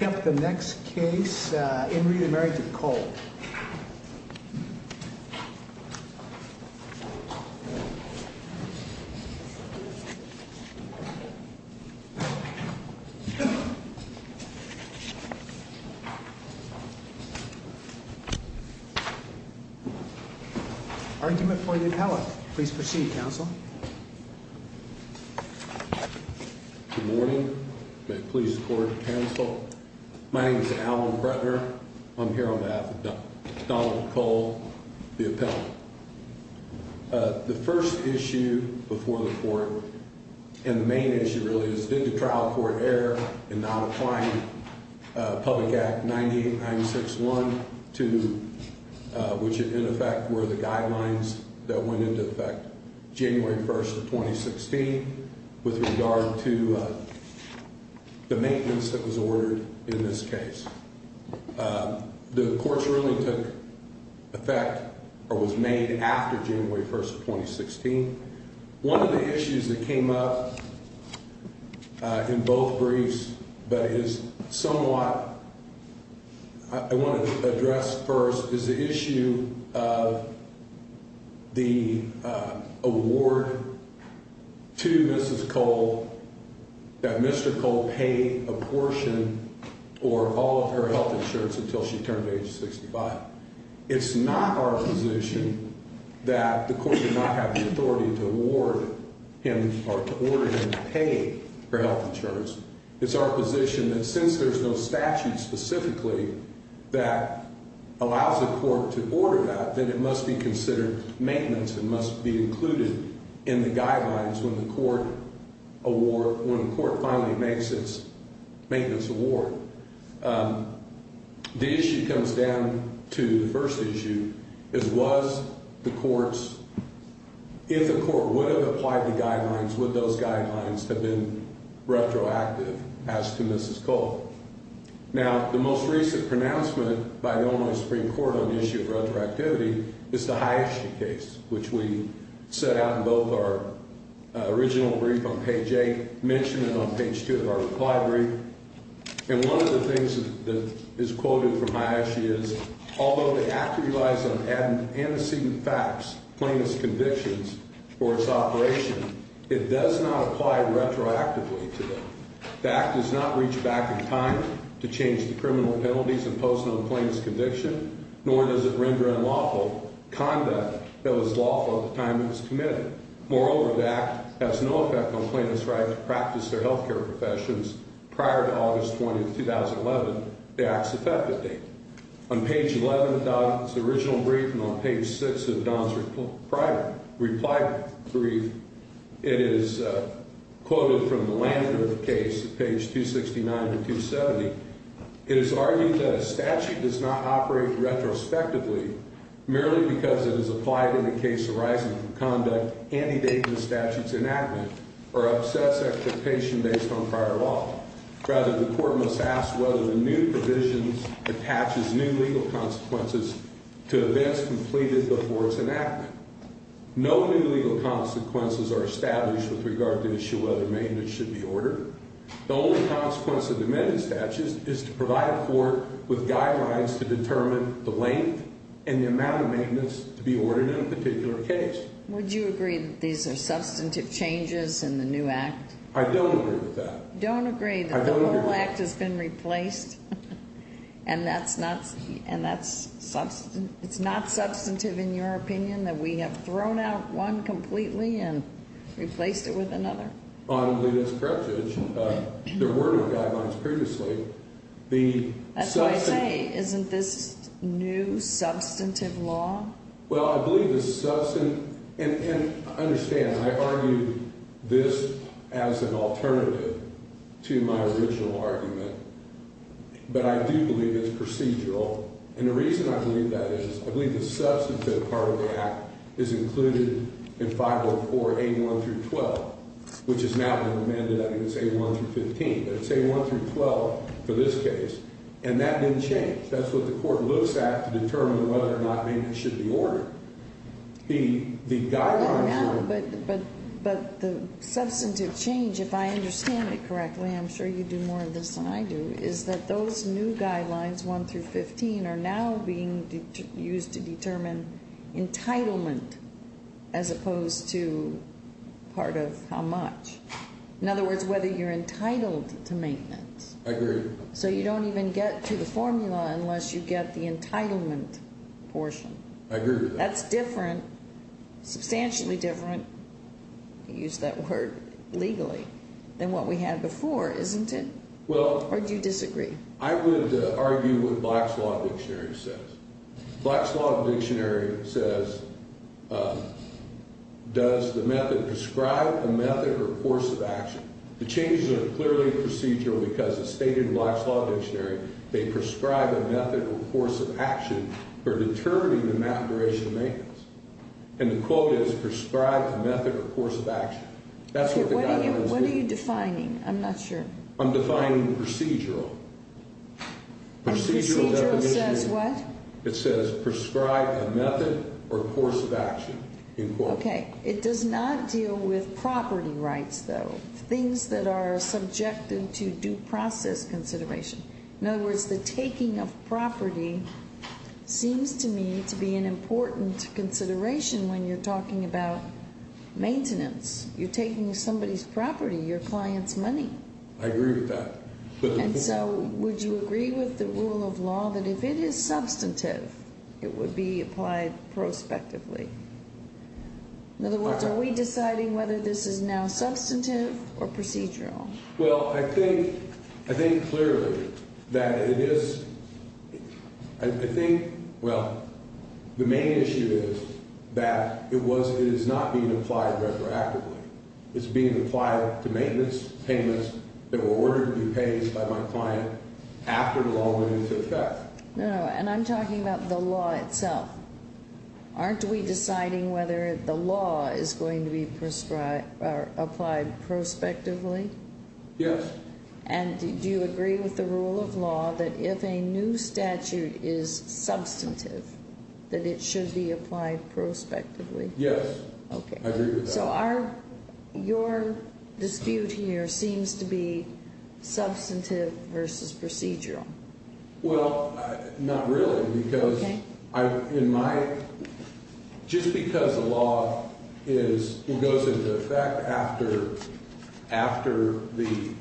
up the next case. In re Marriage of Cole. Argument for the pellet. Please proceed, Council. Good morning. Please court counsel. My name is Alan Bretner. I'm here on behalf of Donald Cole, the appellate. The first issue before the court and the main issue really is did the trial court error in not applying Public Act 98-961 to which in effect were the guidelines that went into effect January 1st of 2016 with regard to the maintenance that was ordered in this case. The court's ruling took effect or was made after January 1st of 2016. One of the issues that came up. In both briefs, but is somewhat. I want to address first is the issue of. The award. To Mrs. Cole. That mystical pay a portion or all of her health insurance until she turned age 65. It's not our position that the court did not have the authority to award him or to order him to pay for health insurance. It's our position that since there's no statute specifically. That allows the court to order that, then it must be considered maintenance and must be included in the guidelines when the court award when the court finally makes its maintenance award. The issue comes down to the 1st issue is was the courts. If the court would have applied the guidelines with those guidelines have been retroactive as to Mrs. Cole. Now, the most recent pronouncement by the only Supreme Court on the issue of retroactivity is the highest case, which we set out in both our. Original brief on page 8 mentioned it on page 2 of our library. And 1 of the things that is quoted from my issue is, although they have to realize and antecedent facts, plainness convictions for its operation. It does not apply retroactively to them. That does not reach back in time to change the criminal penalties and post on claims conviction, nor does it render unlawful conduct that was lawful at the time. It's committed, moreover, that has no effect on plaintiff's right to practice their health care professions. Prior to August 20th, 2011, the acts affected date on page 11. It's the original brief and on page 6 of Don's reply brief. It is quoted from the land of case page 269 to 270. It is argued that a statute does not operate retrospectively merely because it is applied in the case arising from conduct antedating the statute's enactment or obsess expectation based on prior law. Rather, the court must ask whether the new provisions attaches new legal consequences to events completed before its enactment. No new legal consequences are established with regard to issue whether maintenance should be ordered. The only consequence of the amended statute is to provide a court with guidelines to determine the length and the amount of maintenance to be ordered in a particular case. Would you agree that these are substantive changes in the new act? I don't agree with that. Don't agree that the whole act has been replaced? And that's not substantive in your opinion that we have thrown out one completely and replaced it with another? I believe that's correct, Judge. There were no guidelines previously. That's what I say. Isn't this new substantive law? Well, I believe it's substantive. And I understand. I argued this as an alternative to my original argument. But I do believe it's procedural. And the reason I believe that is I believe the substantive part of the act is included in 504A1-12, which is now been amended, I think it's A1-15. But it's A1-12 for this case. And that didn't change. That's what the court looks at to determine whether or not maintenance should be ordered. But the substantive change, if I understand it correctly, I'm sure you do more of this than I do, is that those new guidelines, A1-15, are now being used to determine entitlement as opposed to part of how much. In other words, whether you're entitled to maintenance. I agree. So you don't even get to the formula unless you get the entitlement portion. I agree with that. That's different, substantially different, to use that word legally, than what we had before, isn't it? Or do you disagree? I would argue what Black's Law Dictionary says. Black's Law Dictionary says, does the method prescribe a method or force of action? The changes are clearly procedural because it's stated in Black's Law Dictionary, they prescribe a method or force of action for determining the maturation of maintenance. And the quote is, prescribe a method or force of action. What are you defining? I'm not sure. I'm defining procedural. Procedural says what? It says prescribe a method or force of action. Okay. It does not deal with property rights, though. Things that are subjected to due process consideration. In other words, the taking of property seems to me to be an important consideration when you're talking about maintenance. You're taking somebody's property, your client's money. I agree with that. And so would you agree with the rule of law that if it is substantive, it would be applied prospectively? In other words, are we deciding whether this is now substantive or procedural? Well, I think clearly that it is. I think, well, the main issue is that it is not being applied retroactively. It's being applied to maintenance payments that were ordered to be paid by my client after the law went into effect. No, and I'm talking about the law itself. Aren't we deciding whether the law is going to be applied prospectively? Yes. And do you agree with the rule of law that if a new statute is substantive, that it should be applied prospectively? Yes. Okay. I agree with that. So your dispute here seems to be substantive versus procedural. Well, not really, because in my – just because the law is – goes into effect after the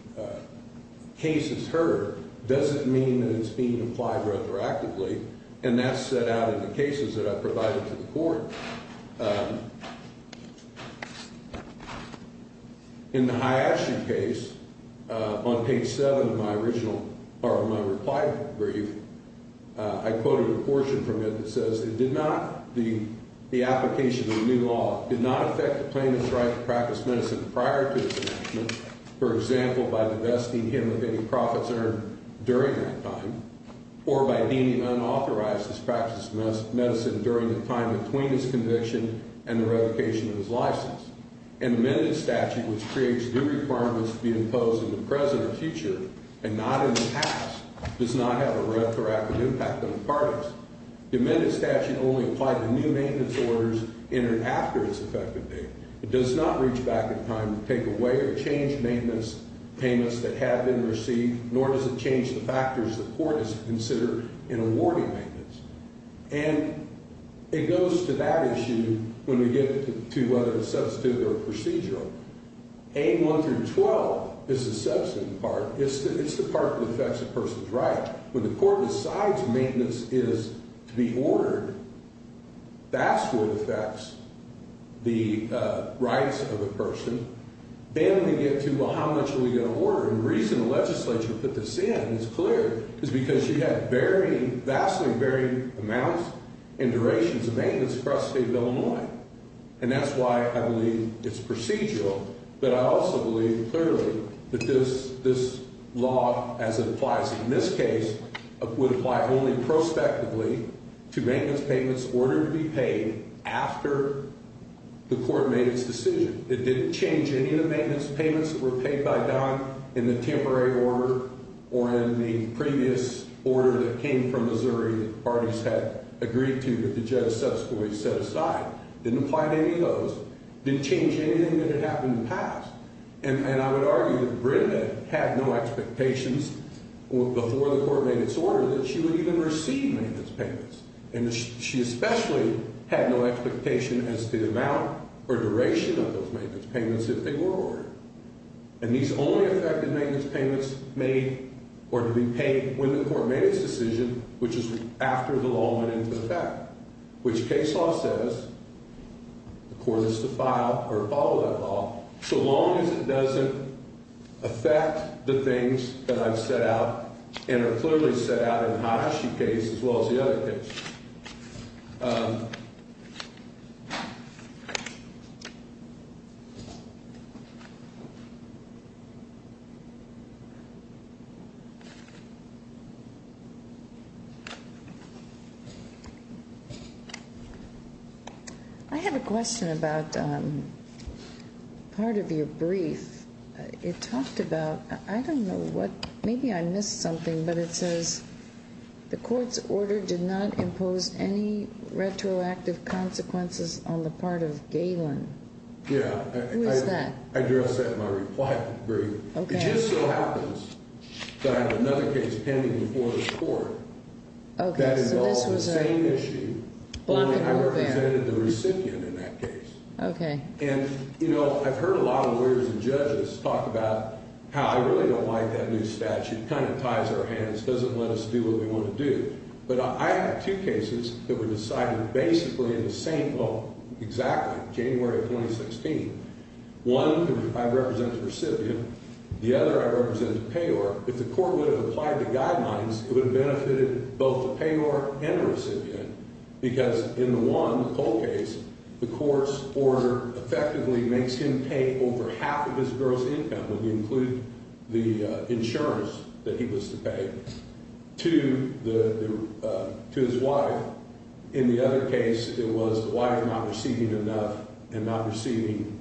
case is heard doesn't mean that it's being applied retroactively. And that's set out in the cases that I've provided to the court. In the Hyatche case, on page 7 of my original – or my reply brief, I quoted a portion from it that says it did not – the application of the new law did not affect the plaintiff's right to practice medicine prior to this enactment, for example, by divesting him of any profits earned during that time or by deeming unauthorized his practice of medicine during the time between his conviction and the revocation of his license. An amended statute, which creates new requirements to be imposed in the present or future and not in the past, does not have a retroactive impact on the parties. The amended statute only applied to new maintenance orders in and after its effective date. It does not reach back in time to take away or change maintenance payments that have been received, nor does it change the factors the court is to consider in awarding maintenance. And it goes to that issue when we get to whether it's substantive or procedural. A1 through 12 is the substantive part. It's the part that affects a person's right. When the court decides maintenance is to be ordered, that's what affects the rights of a person. Then we get to, well, how much are we going to order? And the reason the legislature put this in, it's clear, is because you have varying – vastly varying amounts and durations of maintenance across the state of Illinois. And that's why I believe it's procedural. But I also believe clearly that this law, as it applies in this case, would apply only prospectively to maintenance payments ordered to be paid after the court made its decision. It didn't change any of the maintenance payments that were paid by Don in the temporary order or in the previous order that came from Missouri that parties had agreed to that the judge subsequently set aside. Didn't apply to any of those. Didn't change anything that had happened in the past. And I would argue that Brenda had no expectations before the court made its order that she would even receive maintenance payments. And she especially had no expectation as to the amount or duration of those maintenance payments if they were ordered. And these only affected maintenance payments made or to be paid when the court made its decision, which is after the law went into effect. Which case law says the court is to file or follow that law so long as it doesn't affect the things that I've set out and are clearly set out in the Hiroshi case as well as the other case. I have a question about part of your brief. It talked about I don't know what. Maybe I missed something, but it says the court's order did not impose any retroactive consequences on the part of Galen. Yeah, I addressed that in my reply brief. It just so happens that I have another case pending before the court that involves the same issue, only I represented the recipient in that case. And, you know, I've heard a lot of lawyers and judges talk about how I really don't like that new statute. Kind of ties our hands, doesn't let us do what we want to do. But I have two cases that were decided basically in the same. Oh, exactly. January of 2016. One, I represent the recipient. The other I represent the payor. If the court would have applied the guidelines, it would have benefited both the payor and the recipient. Because in the one, the Cole case, the court's order effectively makes him pay over half of his gross income, and we include the insurance that he was to pay. To his wife. In the other case, it was the wife not receiving enough and not receiving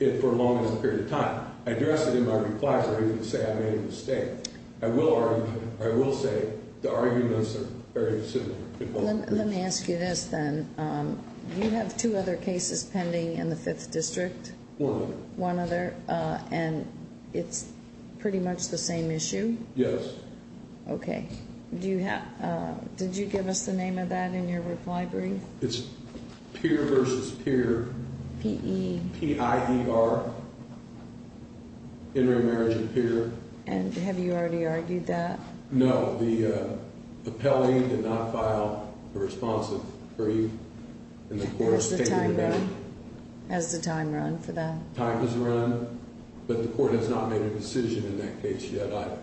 it for as long as a period of time. I addressed it in my reply brief to say I made a mistake. I will say the arguments are very similar. Let me ask you this then. You have two other cases pending in the Fifth District. One of them. One other. And it's pretty much the same issue? Yes. Okay. Did you give us the name of that in your reply brief? It's Peer v. Peer. P-E. P-I-E-R. Interim Marriage of Peer. And have you already argued that? No. The appellee did not file a responsive brief, and the court has stated that. Has the time run for that? Time has run, but the court has not made a decision in that case yet either.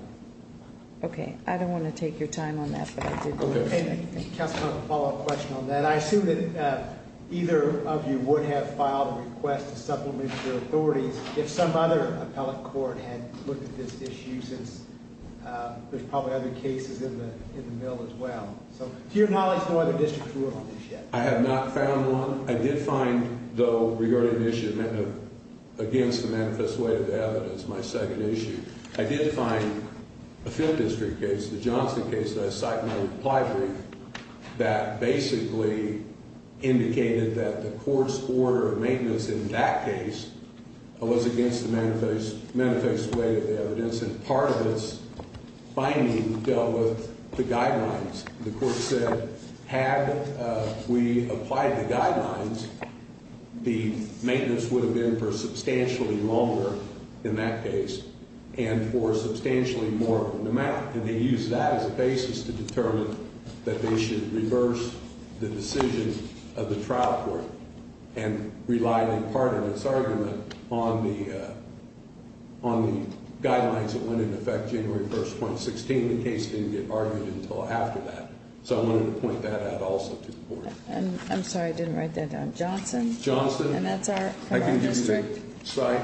Okay. I don't want to take your time on that, but I did do that. Okay. Counselor, I have a follow-up question on that. I assume that either of you would have filed a request to supplement your authorities if some other appellate court had looked at this issue since there's probably other cases in the middle as well. So to your knowledge, no other districts ruled on this yet? I have not found one. I did find, though, regarding the issue against the manifest weight of the evidence, my second issue, I did find a field district case, the Johnson case, that I cited in my reply brief, that basically indicated that the court's order of maintenance in that case was against the manifest weight of the evidence, and part of this finding dealt with the guidelines. The court said, had we applied the guidelines, the maintenance would have been for substantially longer in that case and for substantially more. And they used that as a basis to determine that they should reverse the decision of the trial court and relied in part of this argument on the guidelines that went into effect January 1st, 2016. The case didn't get argued until after that. So I wanted to point that out also to the board. I'm sorry. I didn't write that down. Johnson? Johnson. And that's our district? I can use the site.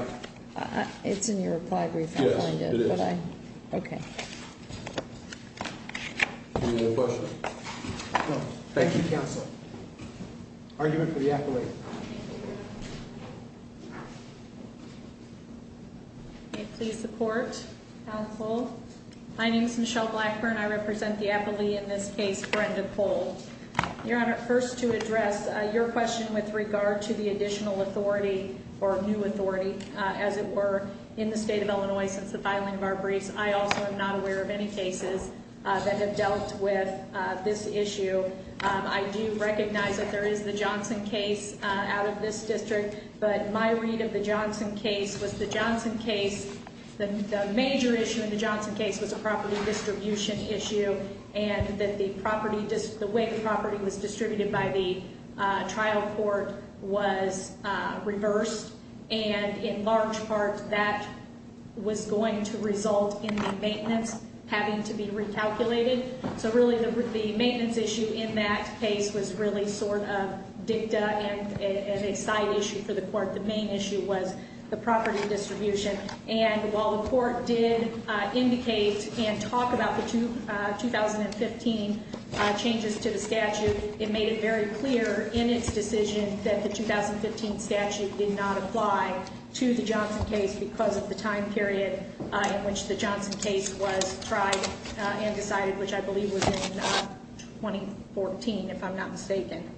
It's in your reply brief. Yes, it is. Okay. Any other questions? No. Thank you, Counselor. Argument for the appellee. Please support, Counsel. My name is Michelle Blackburn. I represent the appellee in this case, Brenda Cole. Your Honor, first to address your question with regard to the additional authority or new authority, as it were, in the state of Illinois since the filing of our briefs. I also am not aware of any cases that have dealt with this issue. I do recognize that there is the Johnson case out of this district, but my read of the Johnson case was the Johnson case, the major issue in the Johnson case was a property distribution issue and that the property, the way the property was distributed by the trial court was reversed, and in large part that was going to result in the maintenance having to be recalculated. So really the maintenance issue in that case was really sort of dicta and a side issue for the court. The main issue was the property distribution. And while the court did indicate and talk about the 2015 changes to the statute, it made it very clear in its decision that the 2015 statute did not apply to the Johnson case because of the time period in which the Johnson case was tried and decided, which I believe was in 2014, if I'm not mistaken.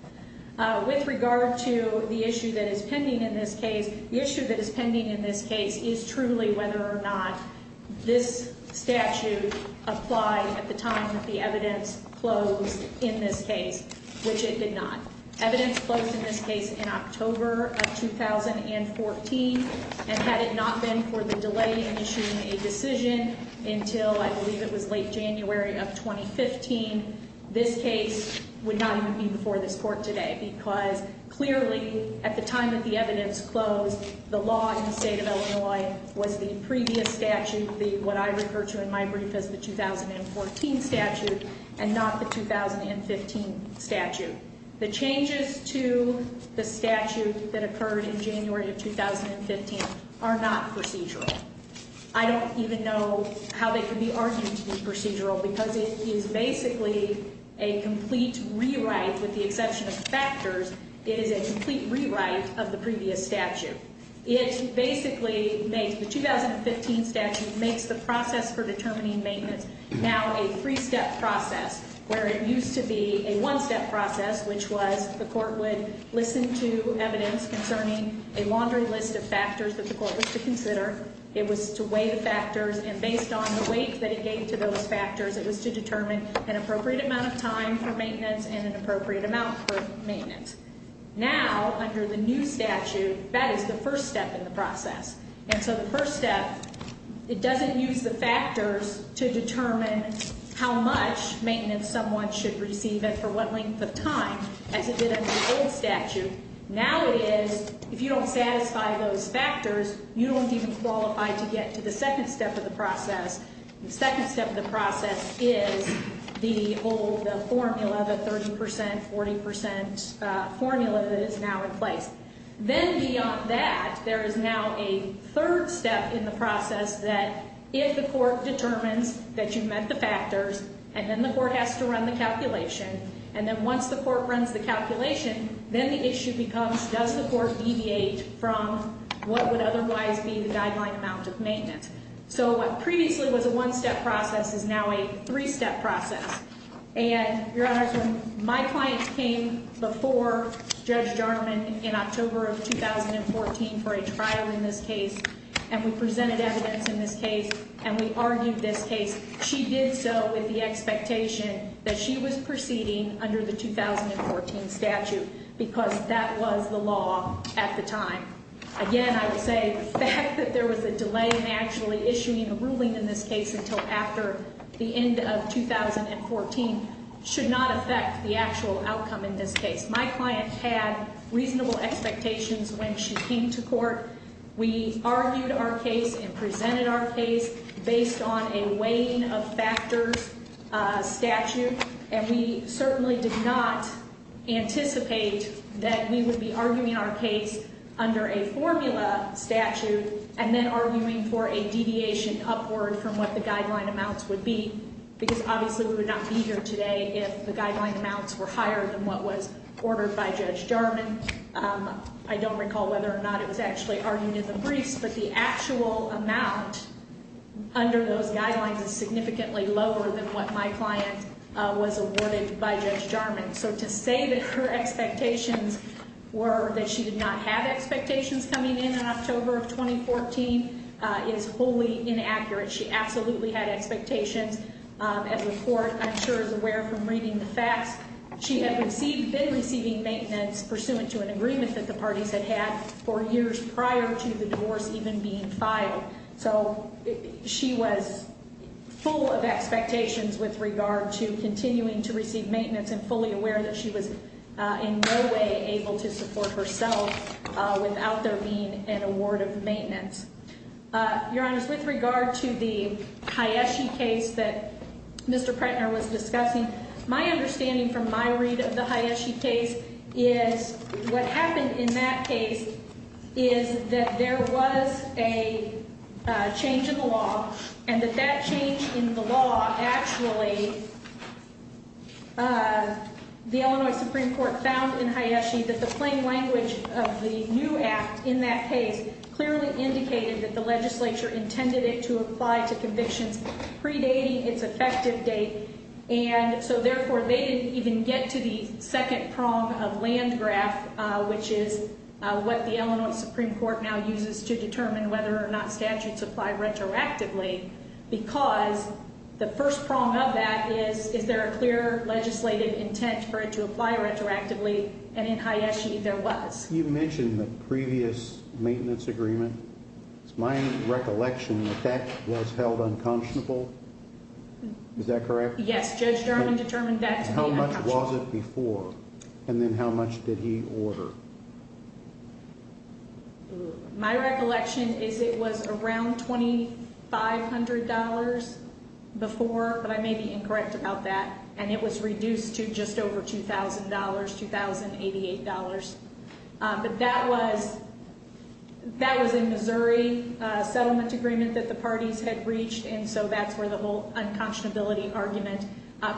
With regard to the issue that is pending in this case, the issue that is pending in this case is truly whether or not this statute applied at the time that the evidence closed in this case, which it did not. Evidence closed in this case in October of 2014, and had it not been for the delay in issuing a decision until I believe it was late January of 2015, this case would not even be before this court today because clearly at the time that the evidence closed, the law in the state of Illinois was the previous statute, what I refer to in my brief as the 2014 statute, and not the 2015 statute. The changes to the statute that occurred in January of 2015 are not procedural. I don't even know how they could be arguing to be procedural because it is basically a complete rewrite with the exception of factors. It is a complete rewrite of the previous statute. It basically makes the 2015 statute makes the process for determining maintenance now a three-step process where it used to be a one-step process, which was the court would listen to evidence concerning a laundry list of factors that the court was to consider. It was to weigh the factors, and based on the weight that it gave to those factors, it was to determine an appropriate amount of time for maintenance and an appropriate amount for maintenance. Now, under the new statute, that is the first step in the process. And so the first step, it doesn't use the factors to determine how much maintenance someone should receive and for what length of time, as it did under the old statute. Now it is, if you don't satisfy those factors, you don't even qualify to get to the second step of the process. The second step of the process is the old formula, the 30 percent, 40 percent formula that is now in place. Then beyond that, there is now a third step in the process that if the court determines that you met the factors, and then the court has to run the calculation, and then once the court runs the calculation, then the issue becomes does the court deviate from what would otherwise be the guideline amount of maintenance. So what previously was a one-step process is now a three-step process. And, Your Honors, when my client came before Judge Jarman in October of 2014 for a trial in this case, and we presented evidence in this case, and we argued this case, she did so with the expectation that she was proceeding under the 2014 statute because that was the law at the time. Again, I would say the fact that there was a delay in actually issuing a ruling in this case until after the end of 2014 should not affect the actual outcome in this case. My client had reasonable expectations when she came to court. We argued our case and presented our case based on a weighing of factors statute, and we certainly did not anticipate that we would be arguing our case under a formula statute and then arguing for a deviation upward from what the guideline amounts would be because obviously we would not be here today if the guideline amounts were higher than what was ordered by Judge Jarman. I don't recall whether or not it was actually argued in the briefs, but the actual amount under those guidelines is significantly lower than what my client was awarded by Judge Jarman. So to say that her expectations were that she did not have expectations coming in in October of 2014 is wholly inaccurate. She absolutely had expectations. As the court, I'm sure, is aware from reading the facts, she had been receiving maintenance pursuant to an agreement that the parties had had for years prior to the divorce even being filed. So she was full of expectations with regard to continuing to receive maintenance and fully aware that she was in no way able to support herself without there being an award of maintenance. Your Honors, with regard to the Hayeshi case that Mr. Pretner was discussing, my understanding from my read of the Hayeshi case is what happened in that case is that there was a change in the law and that that change in the law actually, the Illinois Supreme Court found in Hayeshi that the plain language of the new act in that case clearly indicated that the legislature intended it to apply to convictions predating its effective date and so therefore they didn't even get to the second prong of Landgraf, which is what the Illinois Supreme Court now uses to determine whether or not statutes apply retroactively because the first prong of that is is there a clear legislative intent for it to apply retroactively and in Hayeshi there was. You mentioned the previous maintenance agreement. It's my recollection that that was held unconscionable. Is that correct? Yes, Judge Durham determined that to be unconscionable. How much was it before and then how much did he order? My recollection is it was around $2,500 before, but I may be incorrect about that, and it was reduced to just over $2,000, $2,088. But that was in Missouri, a settlement agreement that the parties had reached, and so that's where the whole unconscionability argument,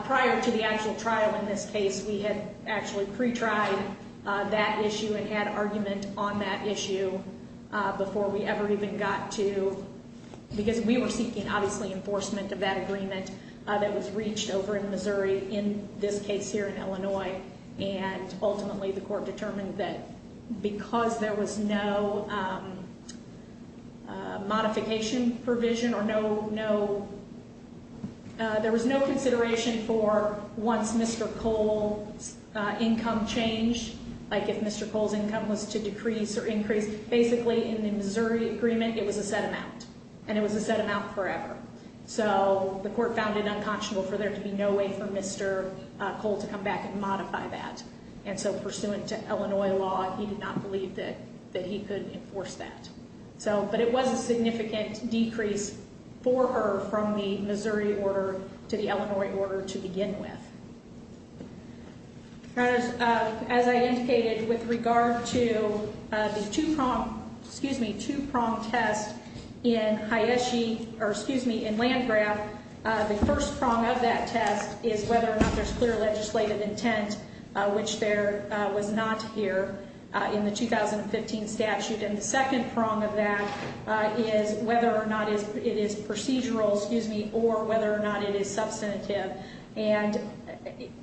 prior to the actual trial in this case, we had actually pre-tried that issue and had argument on that issue before we ever even got to, because we were seeking, obviously, enforcement of that agreement that was reached over in Missouri, in this case here in Illinois, and ultimately the court determined that because there was no modification provision or there was no consideration for once Mr. Cole's income changed, like if Mr. Cole's income was to decrease or increase, basically in the Missouri agreement it was a set amount, and it was a set amount forever. So the court found it unconscionable for there to be no way for Mr. Cole to come back and modify that, and so pursuant to Illinois law, he did not believe that he could enforce that. But it was a significant decrease for her from the Missouri order to the Illinois order to begin with. As I indicated, with regard to the two-prong test in Landgraf, the first prong of that test is whether or not there's clear legislative intent, which there was not here in the 2015 statute. And the second prong of that is whether or not it is procedural or whether or not it is substantive. And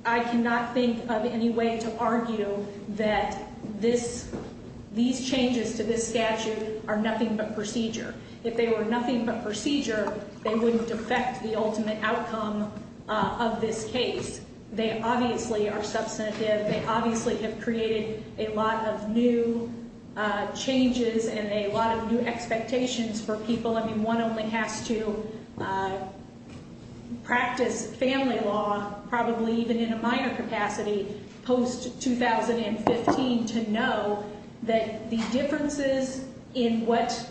I cannot think of any way to argue that these changes to this statute are nothing but procedure. If they were nothing but procedure, they wouldn't affect the ultimate outcome of this case. They obviously are substantive. They obviously have created a lot of new changes and a lot of new expectations for people. I mean, one only has to practice family law probably even in a minor capacity post-2015 to know that the differences in what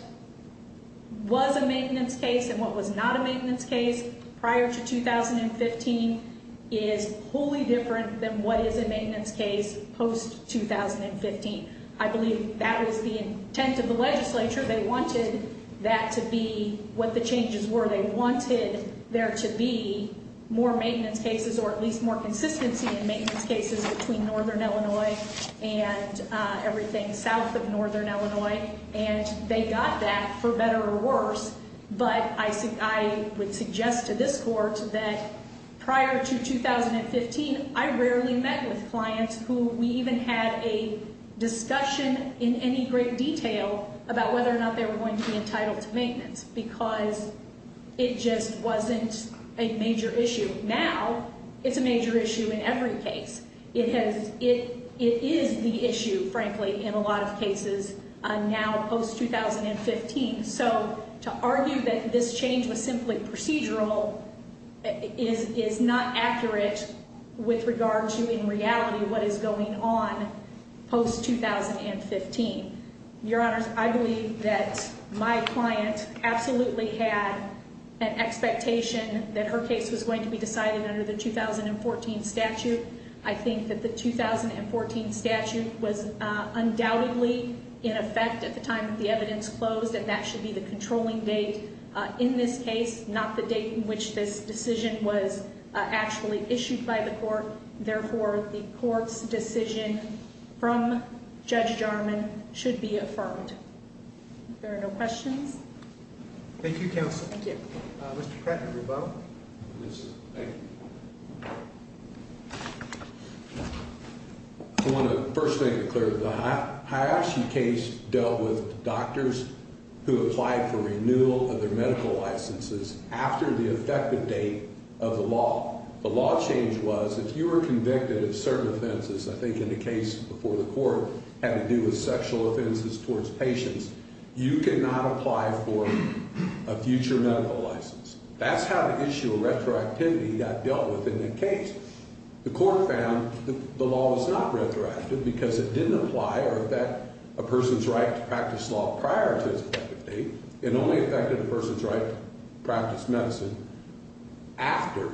was a maintenance case and what was not a maintenance case prior to 2015 is wholly different than what is a maintenance case post-2015. I believe that was the intent of the legislature. They wanted that to be what the changes were. They wanted there to be more maintenance cases or at least more consistency in maintenance cases between northern Illinois and everything south of northern Illinois. And they got that, for better or worse. But I would suggest to this Court that prior to 2015, I rarely met with clients who we even had a discussion in any great detail about whether or not they were going to be entitled to maintenance because it just wasn't a major issue. Now, it's a major issue in every case. It is the issue, frankly, in a lot of cases now post-2015. So to argue that this change was simply procedural is not accurate with regard to, in reality, what is going on post-2015. Your Honors, I believe that my client absolutely had an expectation that her case was going to be decided under the 2014 statute. I think that the 2014 statute was undoubtedly in effect at the time that the evidence closed, and that should be the controlling date in this case, not the date in which this decision was actually issued by the Court. Therefore, the Court's decision from Judge Jarman should be affirmed. If there are no questions. Thank you, Counsel. Thank you. Mr. Pratt, would you vote? Yes, sir. Thank you. I want to first make it clear that the Hyopshi case dealt with doctors who applied for renewal of their medical licenses after the effective date of the law. The law change was if you were convicted of certain offenses, I think in the case before the Court, had to do with sexual offenses towards patients, you cannot apply for a future medical license. That's how the issue of retroactivity got dealt with in the case. The Court found that the law was not retroactive because it didn't apply or affect a person's right to practice law prior to its effective date. It only affected a person's right to practice medicine after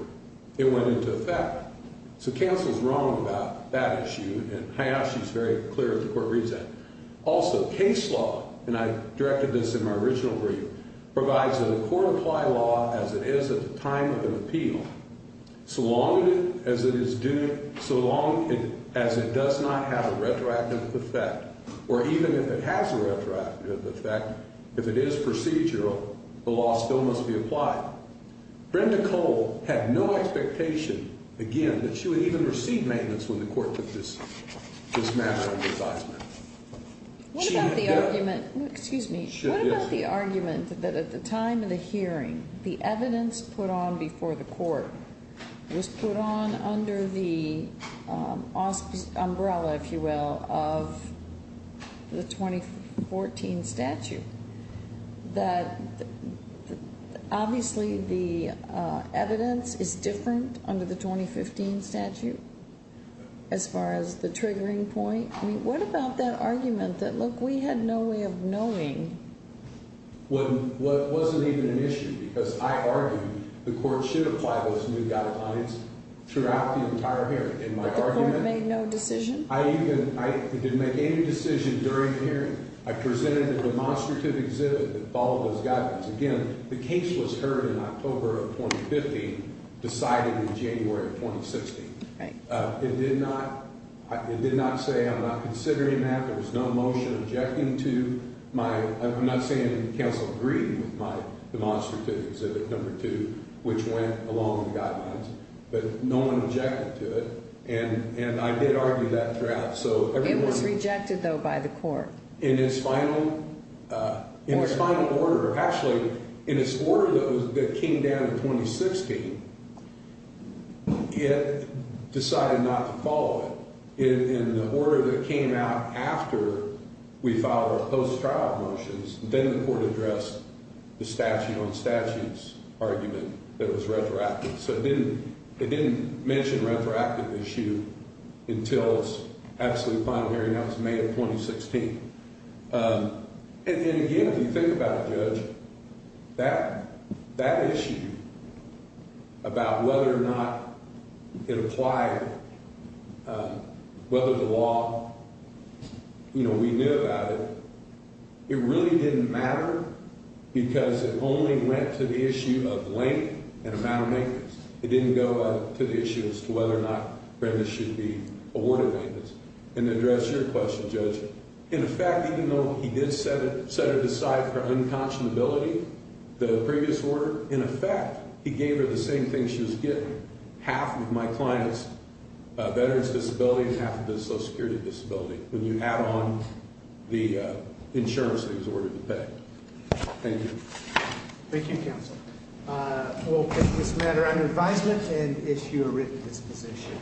it went into effect. So Counsel's wrong about that issue, and Hyopshi's very clear if the Court reads that. Also, case law, and I directed this in my original brief, provides that a court apply law as it is at the time of an appeal, so long as it does not have a retroactive effect, or even if it has a retroactive effect, if it is procedural, the law still must be applied. Brenda Cole had no expectation, again, that she would even receive maintenance when the Court took this matter into advisement. What about the argument, excuse me, what about the argument that at the time of the hearing, the evidence put on before the Court was put on under the umbrella, if you will, of the 2014 statute? That obviously the evidence is different under the 2015 statute as far as the triggering point. I mean, what about that argument that, look, we had no way of knowing? Well, it wasn't even an issue because I argued the Court should apply those new guidelines throughout the entire hearing. But the Court made no decision? I didn't make any decision during the hearing. I presented a demonstrative exhibit that followed those guidelines. Again, the case was heard in October of 2015, decided in January of 2016. It did not say I'm not considering that. There was no motion objecting to my, I'm not saying counsel agreed with my demonstrative exhibit number two, which went along the guidelines, but no one objected to it. And I did argue that throughout. It was rejected, though, by the Court? In its final order. Actually, in its order that came down in 2016, it decided not to follow it. In the order that came out after we filed our post-trial motions, then the Court addressed the statute on statutes argument that was retroactive. So it didn't mention retroactive issue until its absolute final hearing. That was May of 2016. And again, if you think about it, Judge, that issue about whether or not it applied, whether the law, you know, we knew about it, it really didn't matter because it only went to the issue of length and amount of maintenance. It didn't go to the issue as to whether or not Brenda should be awarded maintenance. And to address your question, Judge, in effect, even though he did set it aside for unconscionability, the previous order, in effect, he gave her the same thing she was getting. Half of my client's veteran's disability and half of his Social Security disability when you add on the insurance that he was ordered to pay. Thank you. Thank you, counsel. We'll take this matter under advisement and issue a written disposition.